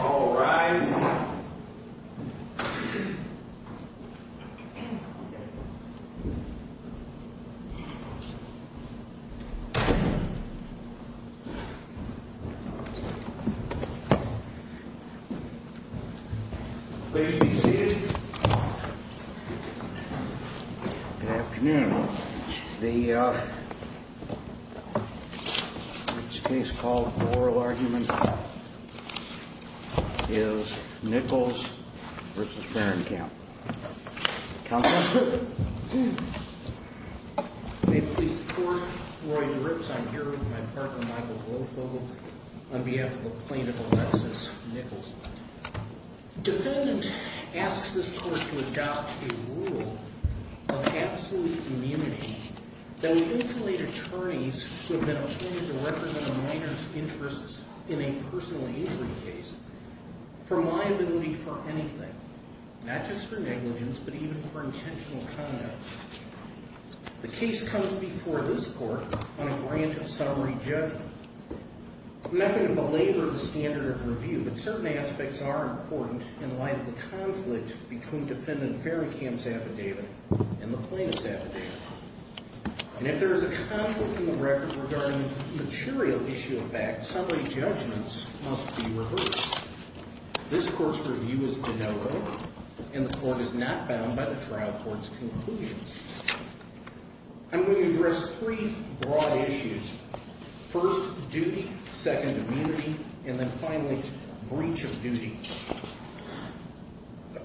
All rise. Please be seated. Good afternoon. The case called for oral argument is Nichols v. Fahrenkamp. Counselor? May it please the Court, Roy DeRips. I'm here with my partner, Michael Goldfield, on behalf of a plaintiff, Alexis Nichols. Defendant asks this Court to adopt a rule of absolute immunity that would insulate attorneys who have been appointed to represent a minor's interests in a personal injury case from liability for anything. Not just for negligence, but even for intentional conduct. The case comes before this Court on a grant of summary judgment. I'm not going to belabor the standard of review, but certain aspects are important in light of the conflict between defendant Fahrenkamp's affidavit and the plaintiff's affidavit. And if there is a conflict in the record regarding material issue of fact, summary judgments must be reversed. This Court's review is de novo, and the Court is not bound by the trial court's conclusions. I'm going to address three broad issues. First, duty. Second, immunity. And then finally, breach of duty.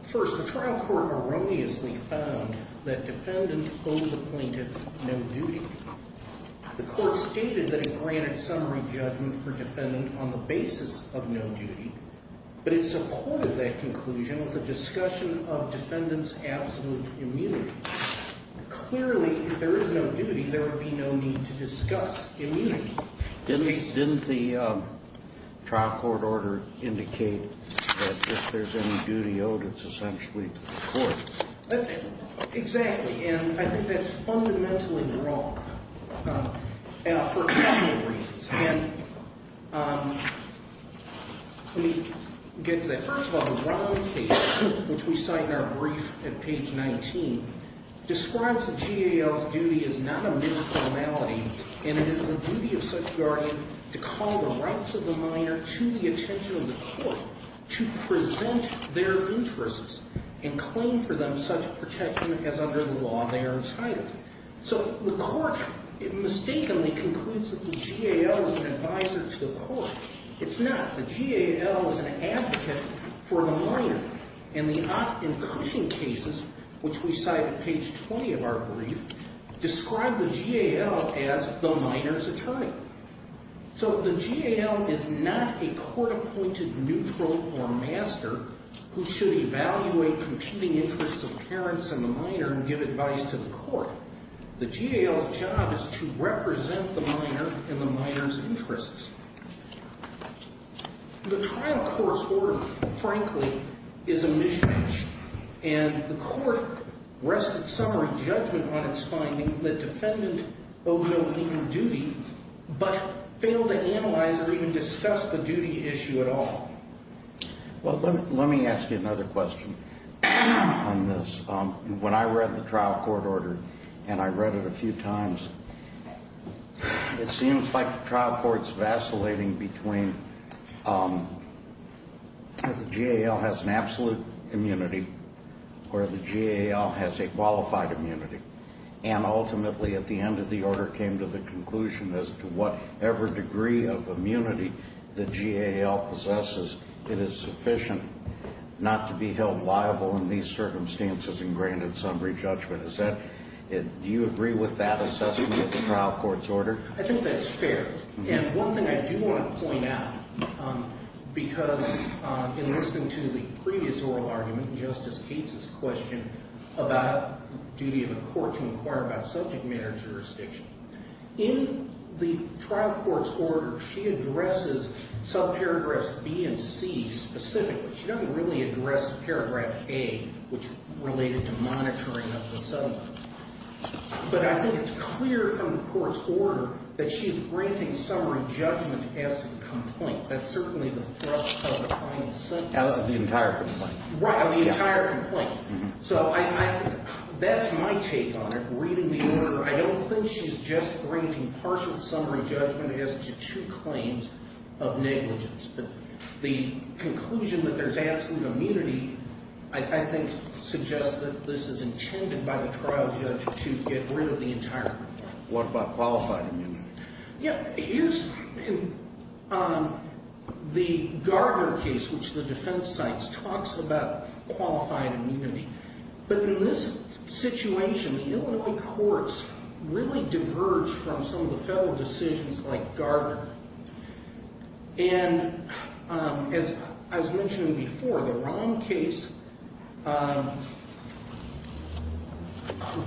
First, the trial court erroneously found that defendant owed the plaintiff no duty. The Court stated that it granted summary judgment for defendant on the basis of no duty, but it supported that conclusion with a discussion of defendant's absolute immunity. Clearly, if there is no duty, there would be no need to discuss immunity. Didn't the trial court order indicate that if there's any duty owed, it's essentially to the court? Exactly. And I think that's fundamentally wrong for a couple of reasons. And let me get to that. First of all, the Romney case, which we cite in our brief at page 19, describes the GAL's duty as not a minor formality, and it is the duty of such guardian to call the rights of the minor to the attention of the court, to present their interests and claim for them such protection as under the law they are entitled. So the court mistakenly concludes that the GAL is an advisor to the court. It's not. The GAL is an advocate for the minor. And the Ott and Cushing cases, which we cite at page 20 of our brief, describe the GAL as the minor's attorney. So the GAL is not a court-appointed neutral or master who should evaluate competing interests of parents and the minor and give advice to the court. The GAL's job is to represent the minor and the minor's interests. The trial court's order, frankly, is a mishmash. And the court rested some re-judgment on its finding that defendant owed no human duty, but failed to analyze or even discuss the duty issue at all. Well, let me ask you another question on this. When I read the trial court order, and I read it a few times, it seems like the trial court's vacillating between the GAL has an absolute immunity or the GAL has a qualified immunity. And ultimately, at the end of the order, came to the conclusion as to whatever degree of immunity the GAL possesses, it is sufficient not to be held liable in these circumstances and granted some re-judgment. Do you agree with that assessment of the trial court's order? I think that's fair. And one thing I do want to point out, because in listening to the previous oral argument, Justice Cates' question about duty of the court to inquire about subject matter jurisdiction, in the trial court's order, she addresses subparagraphs B and C specifically. She doesn't really address paragraph A, which related to monitoring of the settlement. But I think it's clear from the court's order that she's granting summary judgment as to the complaint. That's certainly the thrust of the final sentence. As of the entire complaint. Right, of the entire complaint. So that's my take on it. Reading the order, I don't think she's just granting partial summary judgment as to two claims of negligence. But the conclusion that there's absolute immunity, I think, suggests that this is intended by the trial judge to get rid of the entire complaint. What about qualified immunity? Yeah, here's the Gardner case, which the defense cites, talks about qualified immunity. But in this situation, Illinois courts really diverge from some of the federal decisions like Gardner. And as I was mentioning before, the Rahm case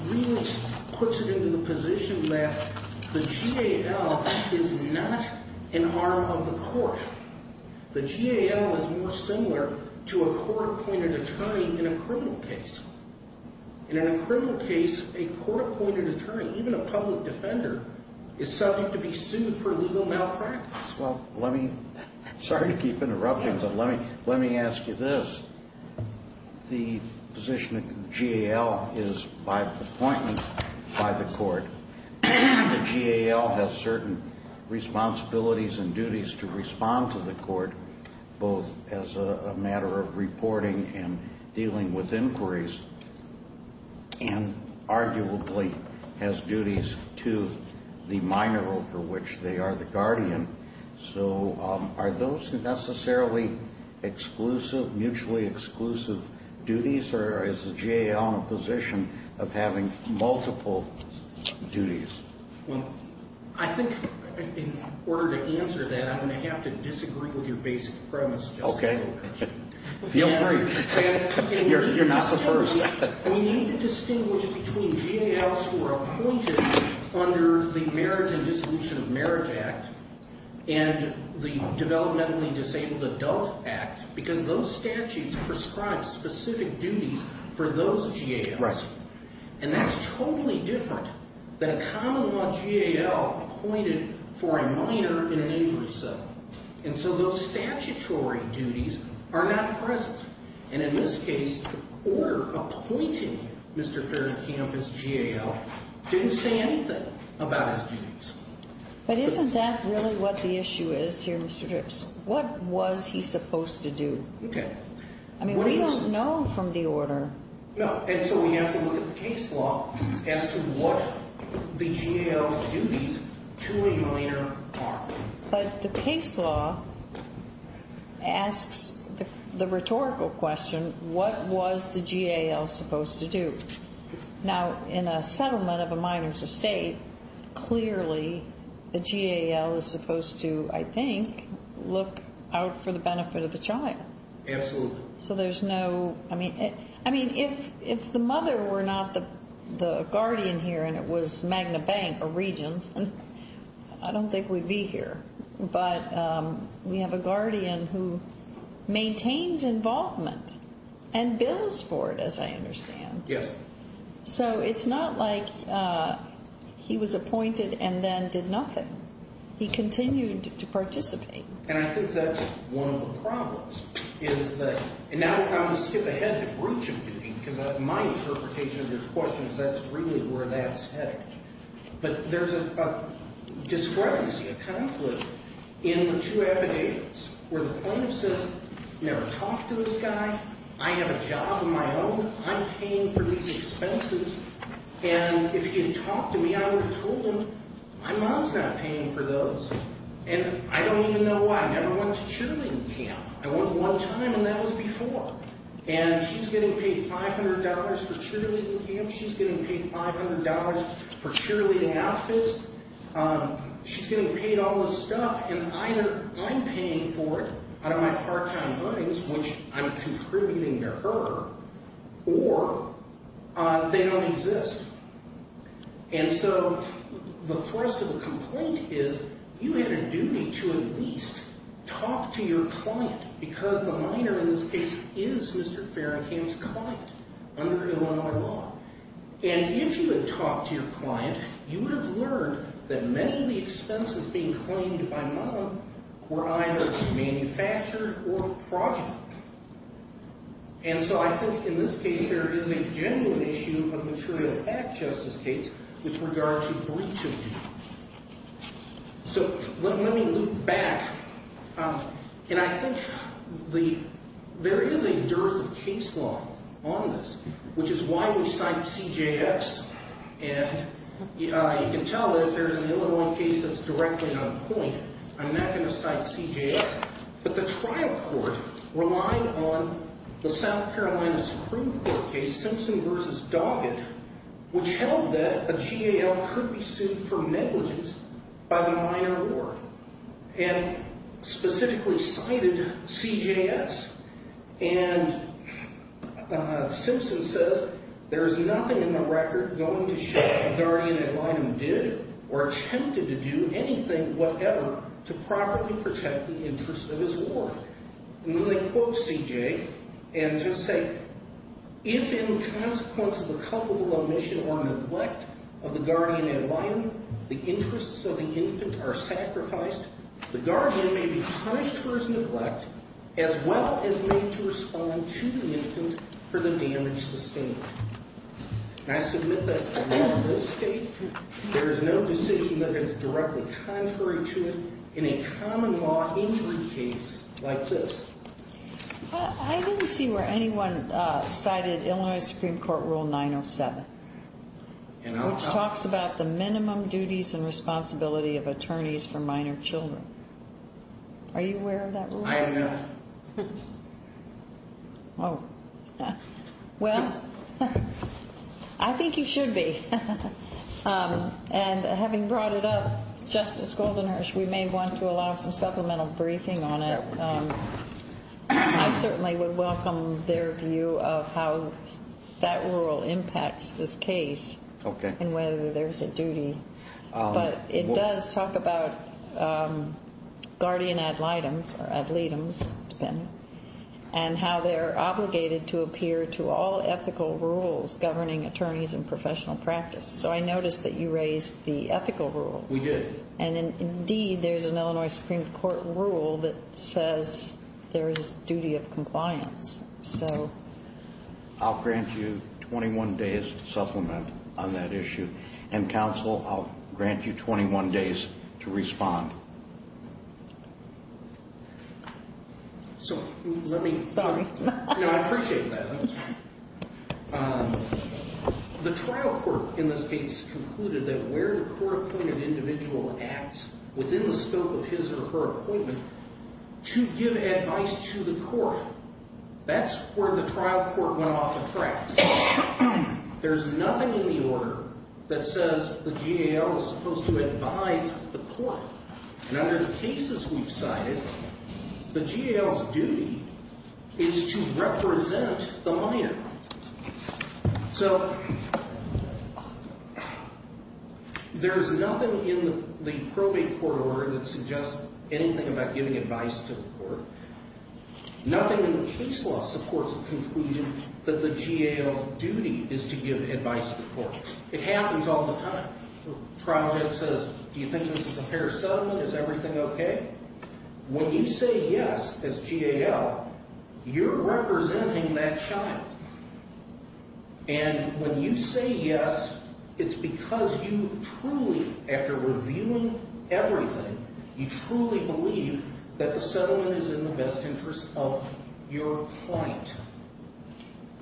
really puts it into the position that the GAL is not an arm of the court. The GAL is more similar to a court-appointed attorney in a criminal case. In a criminal case, a court-appointed attorney, even a public defender, is subject to be sued for legal malpractice. Well, let me – sorry to keep interrupting, but let me ask you this. The position of GAL is by appointment by the court. The GAL has certain responsibilities and duties to respond to the court, both as a matter of reporting and dealing with inquiries, and arguably has duties to the minor over which they are the guardian. So are those necessarily exclusive, mutually exclusive duties, or is the GAL in a position of having multiple duties? Well, I think in order to answer that, I'm going to have to disagree with your basic premise just a little bit. Okay. Feel free. You're not the first. We need to distinguish between GALs who are appointed under the Marriage and Dissolution of Marriage Act and the Developmentally Disabled Adult Act because those statutes prescribe specific duties for those GALs. And that's totally different than a common-law GAL appointed for a minor in an injury settlement. And so those statutory duties are not present. And in this case, the order appointing Mr. Faircamp as GAL didn't say anything about his duties. But isn't that really what the issue is here, Mr. Dripps? What was he supposed to do? Okay. I mean, we don't know from the order. No. And so we have to look at the case law as to what the GAL duties to a minor are. But the case law asks the rhetorical question, what was the GAL supposed to do? Now, in a settlement of a minor's estate, clearly the GAL is supposed to, I think, look out for the benefit of the child. Absolutely. I mean, if the mother were not the guardian here and it was Magna Bank or Regions, I don't think we'd be here. But we have a guardian who maintains involvement and bills for it, as I understand. Yes. So it's not like he was appointed and then did nothing. He continued to participate. And I think that's one of the problems, is that – and now I'm going to skip ahead to brooching duty because my interpretation of your question is that's really where that's headed. But there's a discrepancy, a conflict in the two affidavits where the plaintiff says, never talked to this guy. I have a job of my own. I'm paying for these expenses. And if he had talked to me, I would have told him, my mom's not paying for those. And I don't even know why. I never went to cheerleading camp. I went one time, and that was before. And she's getting paid $500 for cheerleading camp. She's getting paid $500 for cheerleading outfits. She's getting paid all this stuff, and either I'm paying for it out of my part-time earnings, which I'm contributing to her, or they don't exist. And so the thrust of the complaint is you had a duty to at least talk to your client because the minor in this case is Mr. Farringham's client under Illinois law. And if you had talked to your client, you would have learned that many of the expenses being claimed by mom were either manufactured or fraudulent. And so I think in this case, there is a genuine issue of material fact, Justice Gates, with regard to breach of duty. So let me look back. And I think there is a dearth of case law on this, which is why we cite CJX. And you can tell that if there's an Illinois case that's directly not a point, I'm not going to cite CJX. But the trial court relied on the South Carolina Supreme Court case Simpson v. Doggett, which held that a GAL could be sued for negligence by the minor at work, and specifically cited CJX. And Simpson says, there is nothing in the record going to show that the guardian ad litem did or attempted to do anything whatever to properly protect the interest of his ward. And when they quote CJ, and just say, if in consequence of a culpable omission or neglect of the guardian ad litem, the interests of the infant are sacrificed, the guardian may be punished for his neglect, as well as made to respond to the infant for the damage sustained. And I submit that in this state, there is no decision that is directly contrary to it in a common law injury case like this. I didn't see where anyone cited Illinois Supreme Court Rule 907, which talks about the minimum duties and responsibility of attorneys for minor children. Are you aware of that rule? I am not. Well, I think you should be. And having brought it up, Justice Goldenherz, we may want to allow some supplemental briefing on it. I certainly would welcome their view of how that rule impacts this case and whether there's a duty. But it does talk about guardian ad litems, or ad litems, depending, and how they're obligated to appear to all ethical rules governing attorneys and professional practice. So I noticed that you raised the ethical rule. We did. And indeed, there's an Illinois Supreme Court rule that says there is duty of compliance. I'll grant you 21 days to supplement on that issue. And, counsel, I'll grant you 21 days to respond. Sorry. No, I appreciate that. The trial court, in this case, concluded that where the court-appointed individual acts within the scope of his or her appointment to give advice to the court, that's where the trial court went off the tracks. There's nothing in the order that says the GAL is supposed to advise the court. And under the cases we've cited, the GAL's duty is to represent the minor. So there's nothing in the probate court order that suggests anything about giving advice to the court. Nothing in the case law supports the conclusion that the GAL's duty is to give advice to the court. It happens all the time. The trial judge says, do you think this is a fair settlement? Is everything okay? When you say yes as GAL, you're representing that child. And when you say yes, it's because you truly, after reviewing everything, you truly believe that the settlement is in the best interest of your client.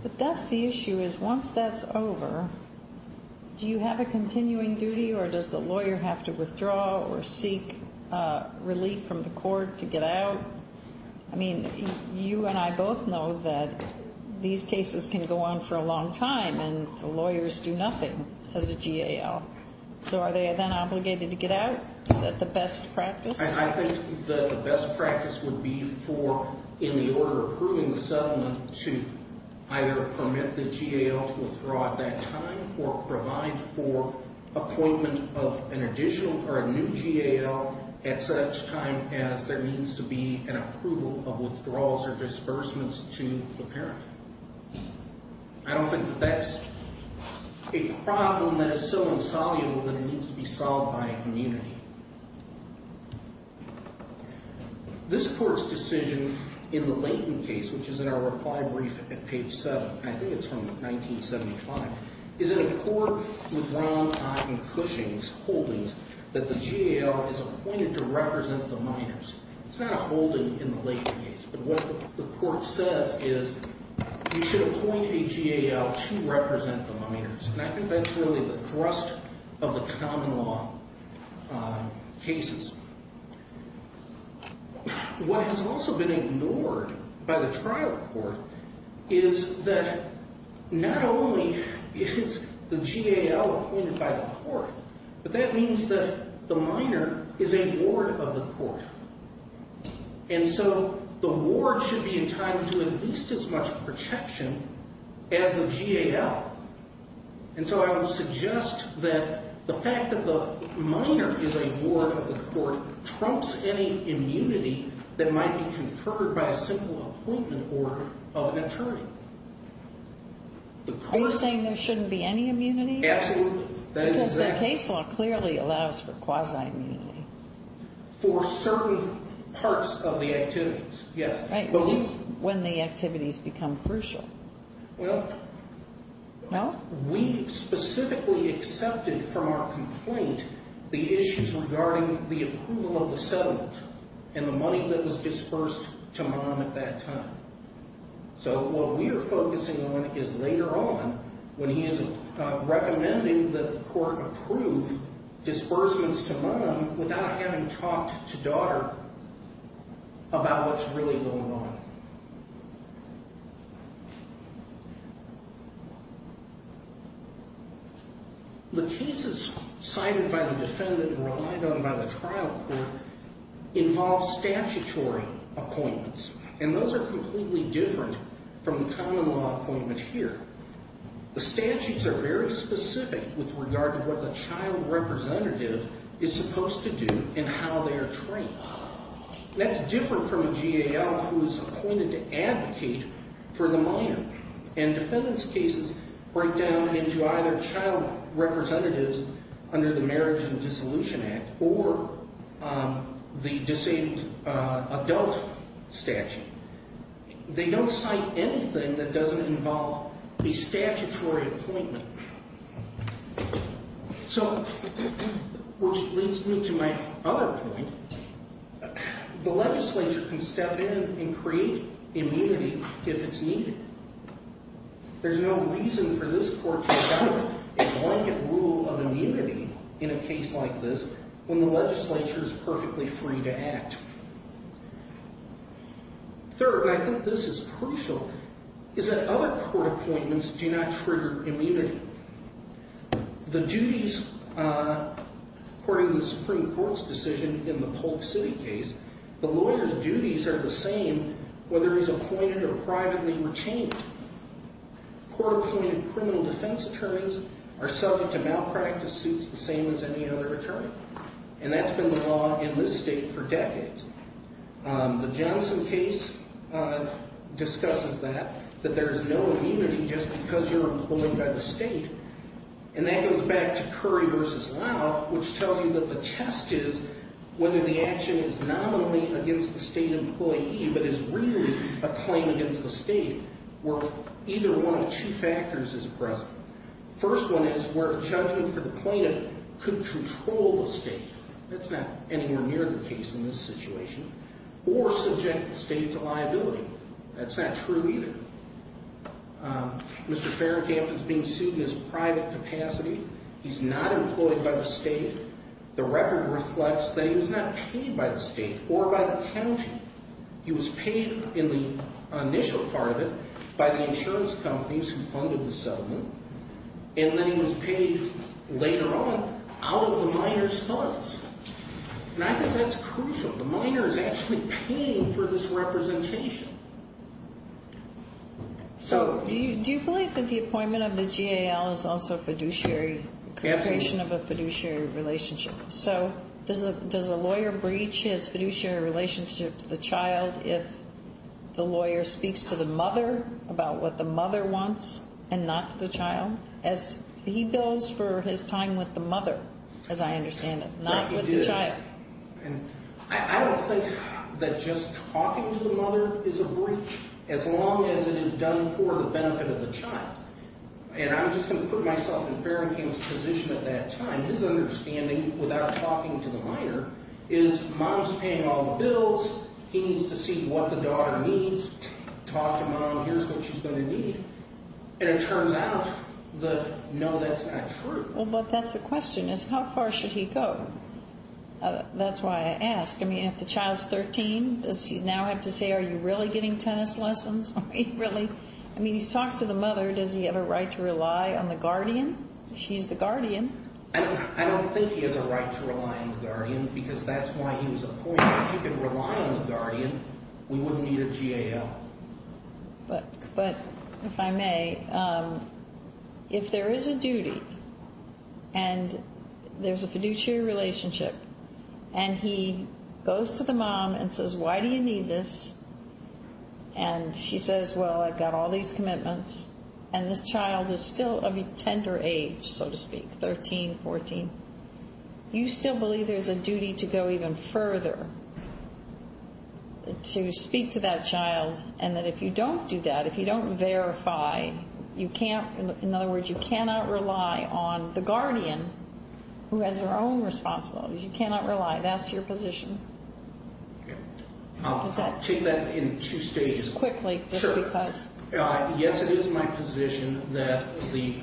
But that's the issue, is once that's over, do you have a continuing duty, or does the lawyer have to withdraw or seek relief from the court to get out? I mean, you and I both know that these cases can go on for a long time, and the lawyers do nothing as a GAL. So are they then obligated to get out? Is that the best practice? I think the best practice would be for, in the order approving the settlement, to either permit the GAL to withdraw at that time, or provide for appointment of an additional or a new GAL at such time as there needs to be an approval of withdrawals or disbursements to the parent. I don't think that that's a problem that is so insoluble that it needs to be solved by a community. This court's decision in the Layton case, which is in our reply brief at page 7, I think it's from 1975, is in a court with Ron and Cushing's holdings that the GAL is appointed to represent the minors. It's not a holding in the Layton case, but what the court says is you should appoint a GAL to represent the minors. And I think that's really the thrust of the common law cases. What has also been ignored by the trial court is that not only is the GAL appointed by the court, but that means that the minor is a ward of the court. And so the ward should be entitled to at least as much protection as the GAL. And so I would suggest that the fact that the minor is a ward of the court trumps any immunity that might be conferred by a simple appointment order of an attorney. Are you saying there shouldn't be any immunity? Absolutely. Because the case law clearly allows for quasi-immunity. For certain parts of the activities, yes. Right, which is when the activities become crucial. Well, we specifically accepted from our complaint the issues regarding the approval of the settlement and the money that was disbursed to Mom at that time. So what we are focusing on is later on when he is recommending that the court approve disbursements to Mom without having talked to daughter about what's really going on. The cases cited by the defendant and relied on by the trial court involve statutory appointments. And those are completely different from the common law appointment here. The statutes are very specific with regard to what the child representative is supposed to do and how they are trained. That's different from a GAL who is appointed to advocate for the minor. And defendant's cases break down into either child representatives under the Marriage and Dissolution Act or the Disabled Adult Statute. They don't cite anything that doesn't involve a statutory appointment. So, which leads me to my other point. The legislature can step in and create immunity if it's needed. There's no reason for this court to adopt a blanket rule of immunity in a case like this when the legislature is perfectly free to act. Third, and I think this is crucial, is that other court appointments do not trigger immunity. The duties, according to the Supreme Court's decision in the Polk City case, the lawyer's duties are the same whether he's appointed or privately retained. Court-appointed criminal defense attorneys are subject to malpractice suits the same as any other attorney. And that's been the law in this state for decades. The Johnson case discusses that, that there's no immunity just because you're employed by the state. And that goes back to Curry v. Lau, which tells you that the test is whether the action is nominally against the state employee but is really a claim against the state where either one of two factors is present. First one is where judgment for the plaintiff could control the state. That's not anywhere near the case in this situation. Or subject the state to liability. That's not true either. Mr. Ferencamp is being sued in his private capacity. He's not employed by the state. The record reflects that he was not paid by the state or by the county. He was paid in the initial part of it by the insurance companies who funded the settlement. And then he was paid later on out of the minor's funds. And I think that's crucial. The minor is actually paying for this representation. Do you believe that the appointment of the GAL is also a fiduciary? Yes. A creation of a fiduciary relationship. So does a lawyer breach his fiduciary relationship to the child if the lawyer speaks to the mother about what the mother wants and not to the child? As he bills for his time with the mother, as I understand it, not with the child. I don't think that just talking to the mother is a breach as long as it is done for the benefit of the child. And I'm just going to put myself in Ferencamp's position at that time. His understanding, without talking to the minor, is mom's paying all the bills. He needs to see what the daughter needs. Talk to mom. Here's what she's going to need. And it turns out that, no, that's not true. Well, but that's a question, is how far should he go? That's why I ask. I mean, if the child's 13, does he now have to say, are you really getting tennis lessons? I mean, he's talked to the mother. Does he have a right to rely on the guardian? She's the guardian. I don't think he has a right to rely on the guardian because that's why he was appointed. If he could rely on the guardian, we wouldn't need a GAL. But if I may, if there is a duty and there's a fiduciary relationship, and he goes to the mom and says, why do you need this? And she says, well, I've got all these commitments. And this child is still of a tender age, so to speak, 13, 14. You still believe there's a duty to go even further, to speak to that child, and that if you don't do that, if you don't verify, you can't, in other words, you cannot rely on the guardian who has her own responsibilities. You cannot rely. That's your position. I'll take that in two stages. Quickly, just because. Yes, it is my position that the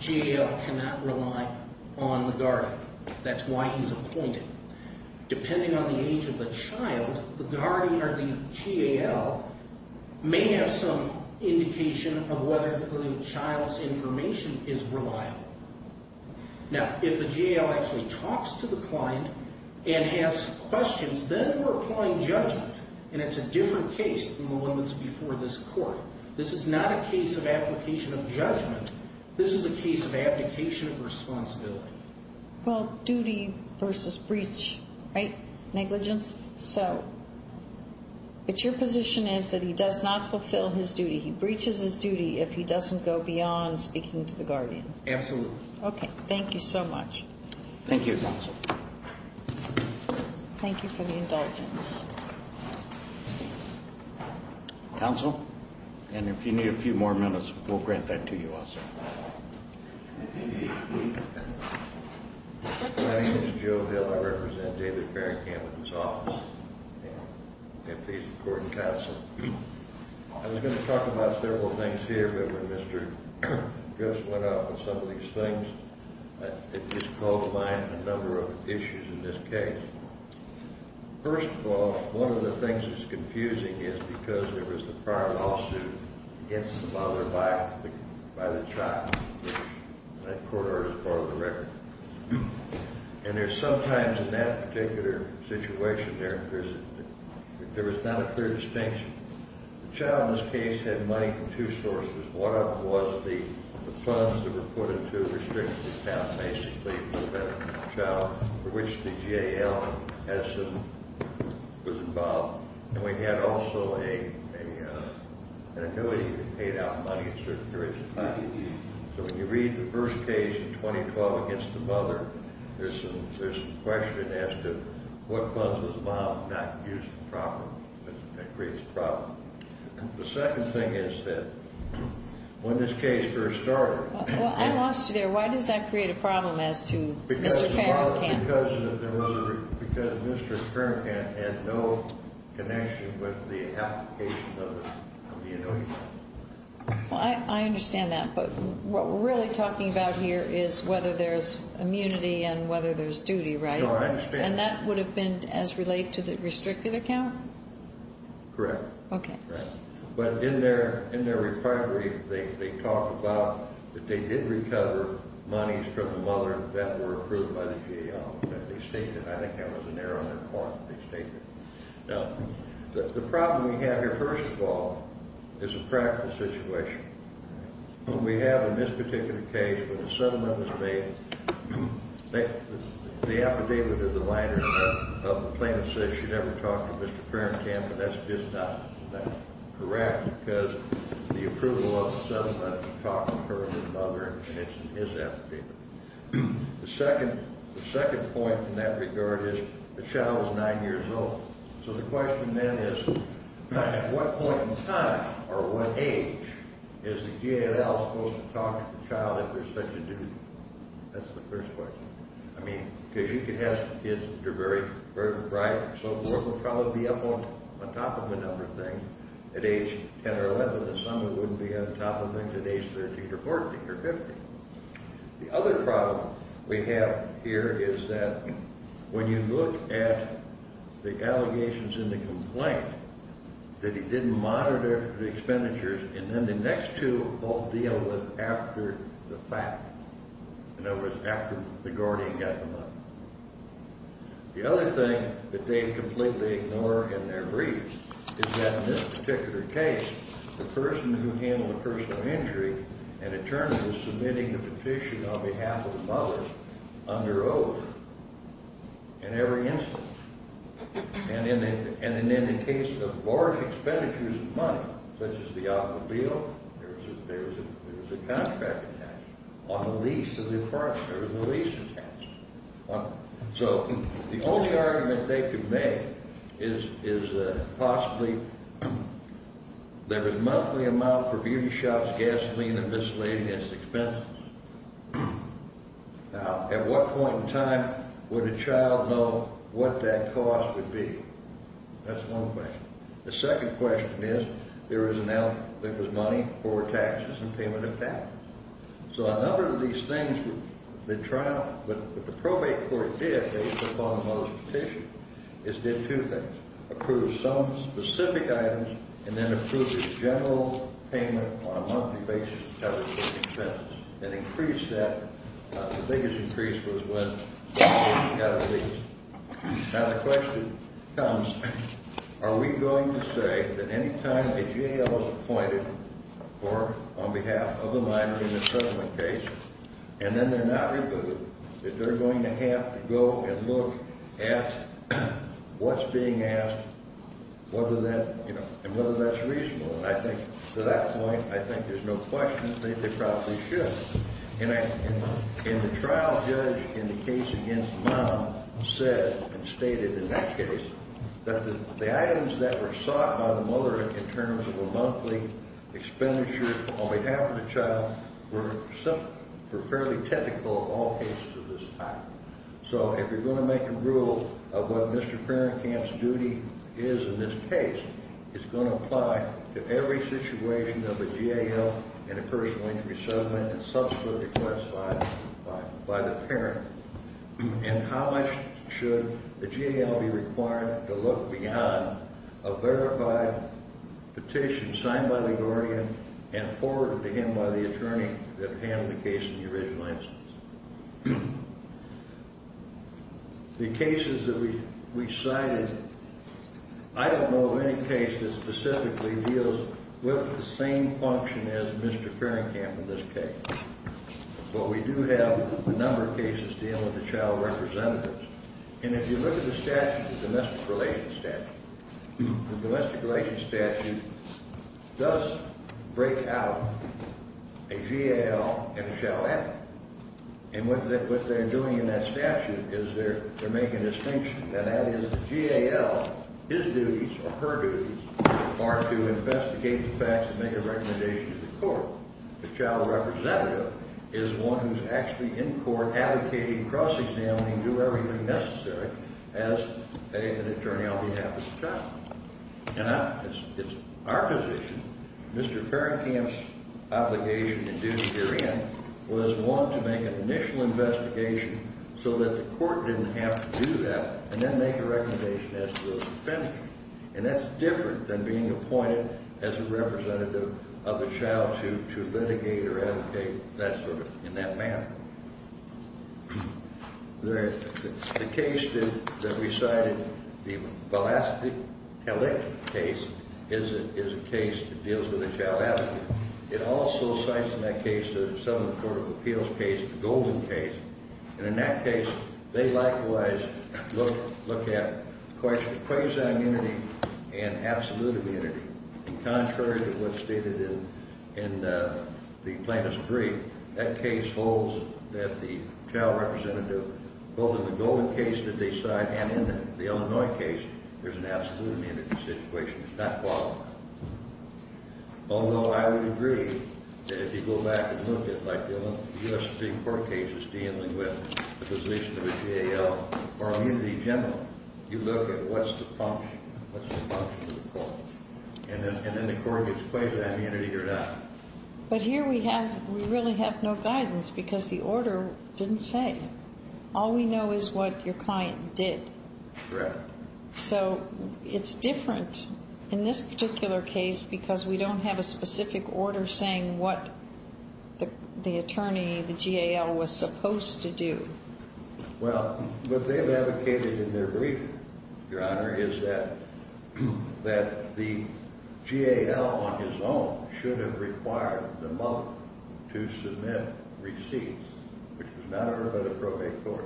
GAL cannot rely on the guardian. That's why he's appointed. Depending on the age of the child, the guardian or the GAL may have some indication of whether the child's information is reliable. Now, if the GAL actually talks to the client and has questions, then we're applying judgment, and it's a different case than the one that's before this court. This is not a case of application of judgment. This is a case of application of responsibility. Well, duty versus breach, right? Negligence, so. But your position is that he does not fulfill his duty. He breaches his duty if he doesn't go beyond speaking to the guardian. Absolutely. Okay, thank you so much. Thank you, counsel. Thank you for the indulgence. Counsel? And if you need a few more minutes, we'll grant that to you also. My name is Joe Hill. I represent David Farringham and his office. I'm the face of the court and counsel. I was going to talk about several things here, but when Mr. Gus went off on some of these things, it just called to mind a number of issues in this case. First of all, one of the things that's confusing is because there was a prior lawsuit against the father by the child. That court order is part of the record. And there's sometimes in that particular situation there, there was not a clear distinction. The child in this case had money from two sources. One of them was the funds that were put into restricting the child, basically, from that child for which the GAL was involved. And we had also an annuity that paid out money at certain periods of time. So when you read the first case in 2012 against the mother, there's a question that asked him what funds was allowed not to use the property. That creates a problem. The second thing is that when this case first started. Well, I lost you there. Why does that create a problem as to Mr. Farrakhan? Because Mr. Farrakhan had no connection with the application of the annuity. Well, I understand that. But what we're really talking about here is whether there's immunity and whether there's duty, right? And that would have been as related to the restricted account? Correct. Okay. Right. But in their recovery, they talk about that they did recover monies from the mother that were approved by the GAL. They state that. I think that was in there on their form. They state that. Now, the problem we have here, first of all, is a practical situation. We have in this particular case, when the settlement was made, the affidavit of the plaintiff says she never talked to Mr. Farrakhan, but that's just not correct because the approval of the settlement talks to her and her mother, and it's in his affidavit. The second point in that regard is the child is nine years old, so the question then is at what point in time or what age is the GAL supposed to talk to the child if there's such a duty? That's the first question. I mean, because you could have kids that are very bright and so forth and probably be up on top of a number of things at age 10 or 11, and some who wouldn't be on top of them at age 13 or 14 or 15. The other problem we have here is that when you look at the allegations in the complaint that he didn't monitor the expenditures, and then the next two all deal with after the fact, in other words, after the guardian got the money. The other thing that they completely ignore in their brief is that in this particular case, the person who handled the personal injury and in turn was submitting the petition on behalf of the mother under oath in every instance. And in the case of large expenditures of money, such as the automobile, there was a contract attached. On the lease of the apartment, there was a lease attached. So the only argument they could make is that possibly there was a monthly amount for beauty shops, gasoline, and miscellaneous expenses. Now, at what point in time would a child know what that cost would be? That's one question. The second question is there is an element that was money or taxes and payment of taxes. So a number of these things that the probate court did based upon the mother's petition is did two things, approved some specific items and then approved a general payment on a monthly basis to cover certain expenses, and increased that. The biggest increase was when the patient got a lease. Now, the question comes, are we going to say that any time a GAO is appointed or on behalf of a minor in a settlement case, and then they're not reviewed, that they're going to have to go and look at what's being asked and whether that's reasonable. And I think to that point, I think there's no question that they probably should. And the trial judge in the case against Mom said and stated in that case that the items that were sought by the mother in terms of a monthly expenditure on behalf of the child were fairly typical of all cases of this type. So if you're going to make a rule of what Mr. Ferencamp's duty is in this case, it's going to apply to every situation of a GAO in a personal injury settlement and subsequently classified by the parent. And how much should the GAO be required to look beyond a verified petition signed by the guardian and forwarded to him by the attorney that handled the case in the original instance? The cases that we cited, I don't know of any case that specifically deals with the same function as Mr. Ferencamp in this case. But we do have a number of cases dealing with the child representatives. And if you look at the statute, the domestic relations statute, the domestic relations statute does break out a GAO and a child advocate. And what they're doing in that statute is they're making a distinction, and that is the GAO, his duties or her duties, are to investigate the facts and make a recommendation to the court. The child representative is one who's actually in court advocating cross-examining and doing everything necessary as an attorney on behalf of the child. And it's our position, Mr. Ferencamp's obligation to do herein, was one to make an initial investigation so that the court didn't have to do that and then make a recommendation as to the defendant. And that's different than being appointed as a representative of a child to litigate or advocate in that manner. The case that we cited, the Velastic-Talic case, is a case that deals with a child advocate. It also cites in that case the Southern Court of Appeals case, the Golden case. And in that case, they likewise look at quasi-unity and absolute unity. And contrary to what's stated in the plaintiff's brief, that case holds that the child representative, both in the Golden case that they cite and in the Illinois case, there's an absolute unity situation. It's not qualified. Although I would agree that if you go back and look at, like, the U.S. Supreme Court case is dealing with the position of a GAO or a unity general, you look at what's the function, what's the function of the court, and then the court gets quasi-unity or not. But here we really have no guidance because the order didn't say. All we know is what your client did. Correct. So it's different in this particular case because we don't have a specific order saying what the attorney, the GAO, was supposed to do. Well, what they've advocated in their briefing, Your Honor, is that the GAO on his own should have required the mother to submit receipts, which was not an early appropriate court.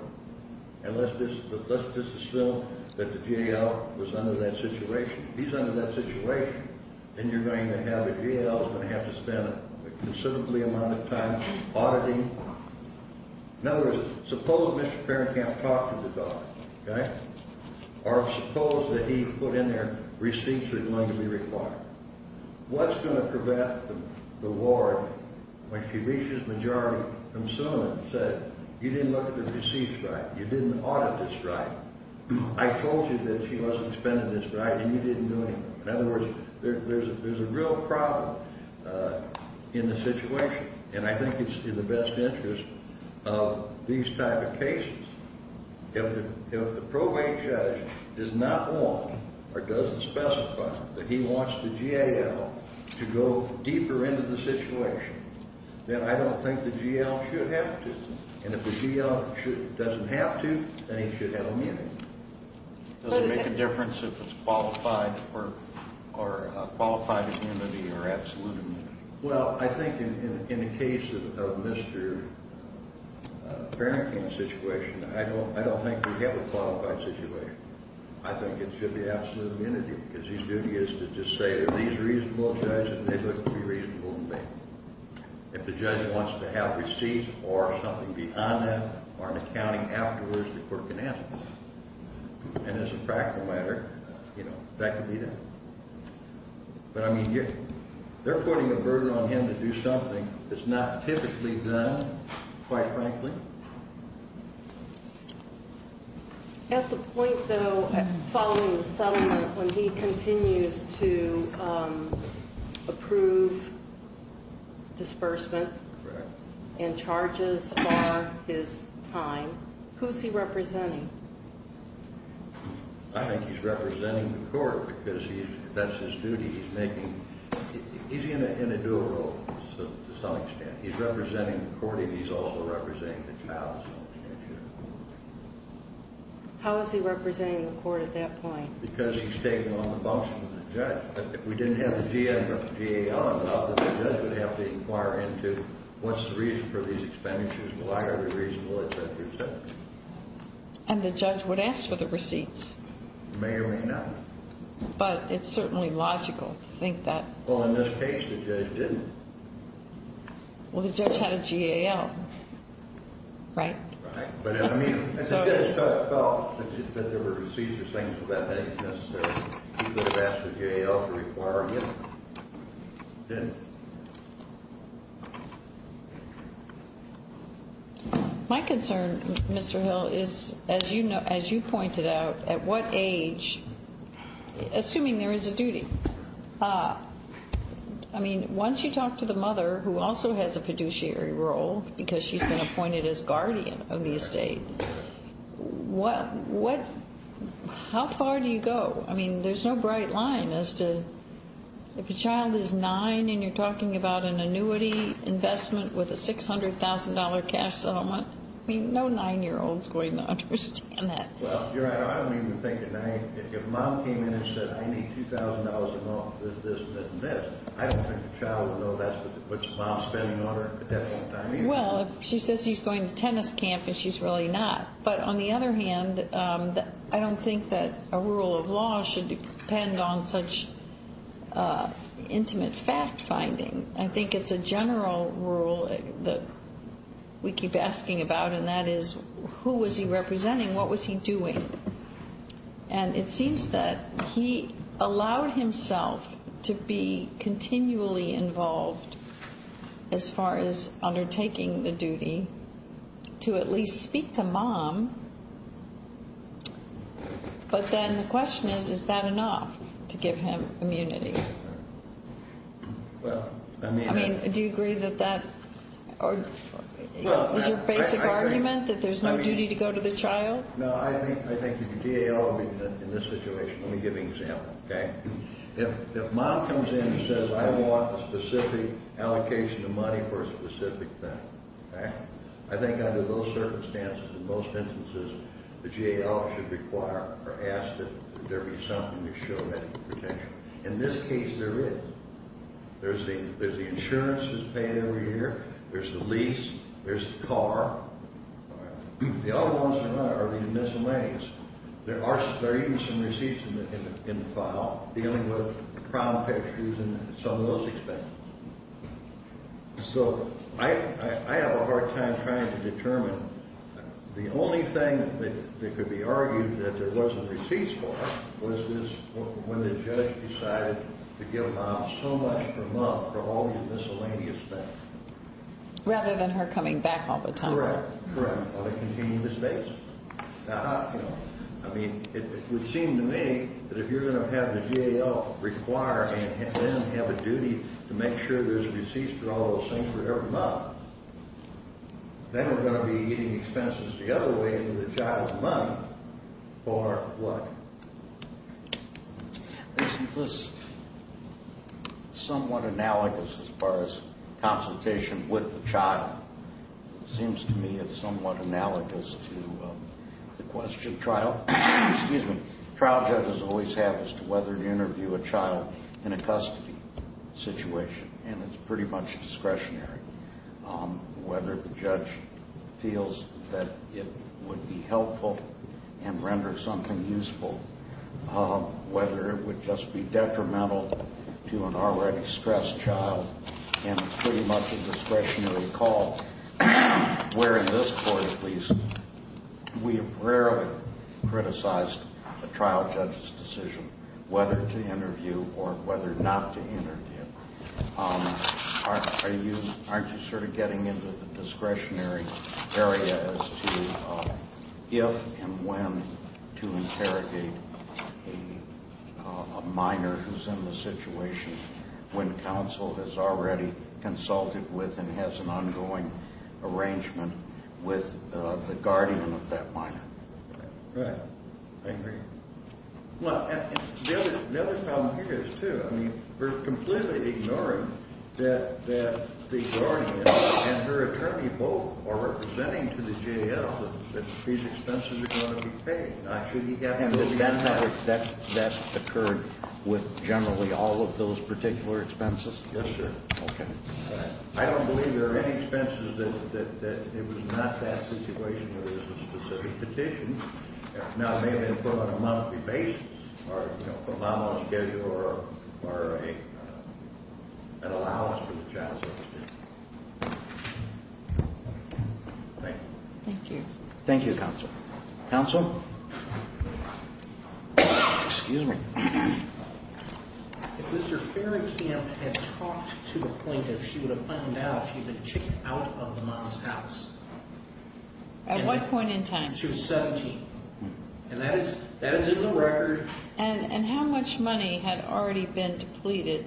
And let's just assume that the GAO was under that situation. If he's under that situation, then you're going to have a GAO that's going to have to spend a considerable amount of time auditing. In other words, suppose Mr. Perrin can't talk to the daughter, okay? Or suppose that he put in there receipts that are going to be required. What's going to prevent the ward, when she reaches majority, from suing and says, you didn't look at the receipts right, you didn't audit this right, I told you that she wasn't spending this right and you didn't do anything. In other words, there's a real problem in the situation, and I think it's in the best interest of these type of cases. If the probate judge does not want or doesn't specify that he wants the GAO to go deeper into the situation, then I don't think the GAO should have to. And if the GAO doesn't have to, then he should have immunity. Does it make a difference if it's qualified immunity or absolute immunity? Well, I think in the case of Mr. Perrin's situation, I don't think we have a qualified situation. I think it should be absolute immunity, because his duty is to just say that these reasonable judges, they look to be reasonable to me. If the judge wants to have receipts or something beyond that, or an accounting afterwards, the court can answer that. And as a practical matter, you know, that can be done. But, I mean, they're putting a burden on him to do something that's not typically done, quite frankly. At the point, though, following the settlement, when he continues to approve disbursements and charges are his time, who's he representing? I think he's representing the court, because that's his duty. He's in a dual role, to some extent. He's representing the court, and he's also representing the child. How is he representing the court at that point? Because he's taking on the function of the judge. If we didn't have the GAO, I thought that the judge would have to inquire into what's the reason for these expenditures, why are they reasonable, et cetera, et cetera. And the judge would ask for the receipts. May or may not. But it's certainly logical to think that. Well, in this case, the judge didn't. Well, the judge had a GAO, right? Right. But, I mean, if the judge felt that there were receipts or things of that nature necessary, he would have asked the GAO to inquire again, didn't he? My concern, Mr. Hill, is, as you pointed out, at what age, assuming there is a duty, I mean, once you talk to the mother, who also has a fiduciary role, because she's been appointed as guardian of the estate, how far do you go? I mean, there's no bright line as to, if a child is nine and you're talking to him, are you talking about an annuity investment with a $600,000 cash settlement? I mean, no nine-year-old is going to understand that. Well, you're right. I don't even think at nine, if a mom came in and said, I need $2,000 in office, this, this, and this, I don't think the child would know that's what your mom's spending on her, but that's what nine is. Well, if she says she's going to tennis camp and she's really not. But, on the other hand, I don't think that a rule of law should depend on such intimate fact-finding. I think it's a general rule that we keep asking about, and that is, who was he representing? What was he doing? And it seems that he allowed himself to be continually involved as far as undertaking the duty to at least speak to mom. But then the question is, is that enough to give him immunity? Well, I mean... I mean, do you agree that that... Well, I... Is your basic argument that there's no duty to go to the child? No, I think the DAL would be in this situation. Let me give you an example, okay? If mom comes in and says, I want a specific allocation of money for a specific thing, okay? I think under those circumstances, in most instances, the DAL should require or ask that there be something to show that potential. In this case, there is. There's the insurance that's paid every year. There's the lease. There's the car. All right. The other ones are the missing legs. There are even some receipts in the file dealing with prom pictures and some of those expenses. So, I have a hard time trying to determine the only thing that could be argued that there wasn't receipts for was when the judge decided to give mom so much per month for all these miscellaneous things. Rather than her coming back all the time. Correct. Correct. Or to continue the states. I mean, it would seem to me that if you're going to have the DAL require and then have a duty to make sure there's receipts for all those things for every month, then we're going to be eating expenses the other way into the child's money for what? Isn't this somewhat analogous as far as consultation with the child? It seems to me it's somewhat analogous to the question trial... Excuse me. Trial judges always have as to whether to interview a child in a custody situation. And it's pretty much discretionary. Whether the judge feels that it would be helpful and render something useful. Whether it would just be detrimental to an already stressed child. And it's pretty much a discretionary call. Where in this court at least we've rarely criticized a trial judge's decision whether to interview or whether not to interview. Aren't you sort of getting into the discretionary area as to if and when to interrogate a minor who's in the situation when counsel has already consulted with and has an ongoing arrangement with the guardian of that minor? Right. I agree. Well, the other problem here is too that we're completely ignoring that the guardian and her attorney both are representing to the J.L. that these expenses are going to be paid. Now, should he have those expenses? That's occurred with generally all of those particular expenses? Yes, sir. Okay. I don't believe there are any expenses that it was not that situation that it was a specific petition. Now, maybe it was on a monthly basis or a monthly schedule or an allowance for the child. Thank you. Thank you. Thank you, counsel. Counsel? Excuse me. If Mr. Ferrykamp had talked to the plaintiff, she would have found out she had been kicked out of the mom's house. At what point in time? She was 17. And that is in the record. And how much money had already been depleted?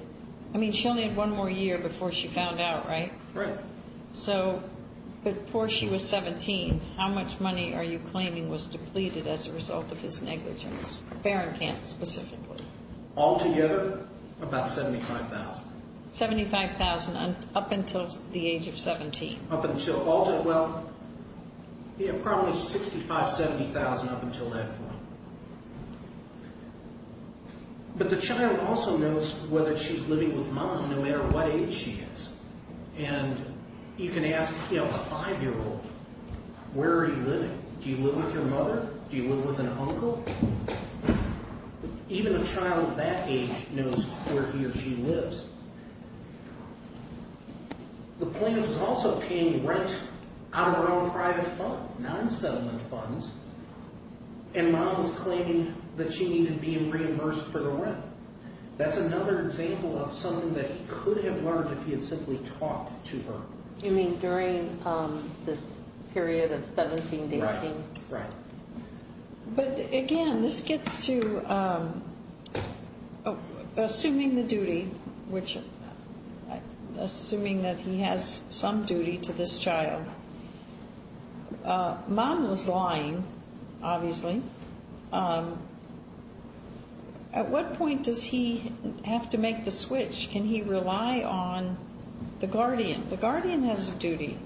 I mean, she only had one more year before she found out, right? Right. So, before she was 17, how much money are you claiming was depleted as a result of his negligence? Ferrykamp specifically. Altogether, about $75,000. $75,000 up until the age of 17? Up until... Well, yeah, probably $65,000, $70,000 up until that point. But the child also knows whether she's living with mom, no matter what age she is. And you can ask, you know, a five-year-old, where are you living? Do you live with your mother? Do you live with an uncle? Even a child that age knows where he or she lives. The plaintiff is also paying rent out of her own private funds, non-settlement funds. And mom's claiming that she needed being reimbursed for the rent. That's another example of something that he could have learned if he had simply talked to her. You mean during this period of 17, 18? Right, right. But again, this gets to... Assuming the duty, assuming that he has some duty to this child, mom was lying, obviously. At what point does he have to make the switch? Can he rely on the guardian? The guardian has a duty.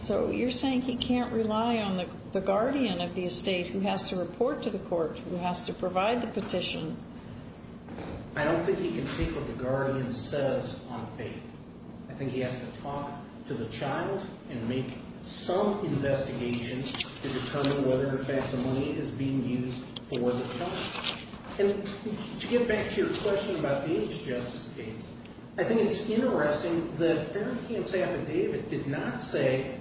So you're saying he can't rely on the guardian of the estate who has to report to the court, who has to provide the petition? I don't think he can take what the guardian says on faith. I think he has to talk to the child and make some investigations to determine whether or not in fact the money is being used for the child. And to get back to your question about the age justice case, I think it's interesting that Eric Camps' affidavit did not say,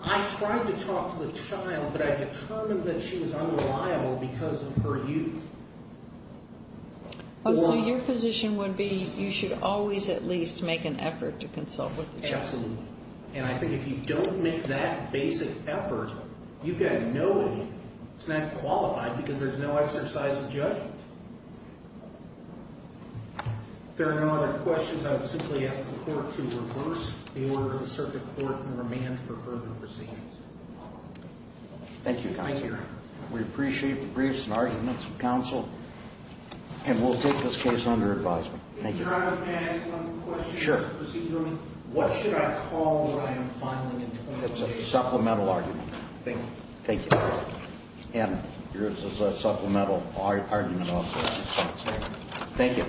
I tried to talk to the child but I determined that she was unreliable because of her youth. So your position would be you should always at least make an effort to consult with the child? Absolutely. And I think if you don't make that basic effort, you've got nobody. It's not qualified because there's no exercise of judgment. If there are no other questions, I would simply ask the court to reverse the order of the circuit court and remand for further proceedings. Thank you, counsel. Thank you. We appreciate the briefs and arguments from counsel. And we'll take this case under advisement. Thank you. Can I ask one question? Sure. What should I call what I am filing in 2018? I think it's a supplemental argument. Thank you. And yours is a supplemental argument also. Thank you.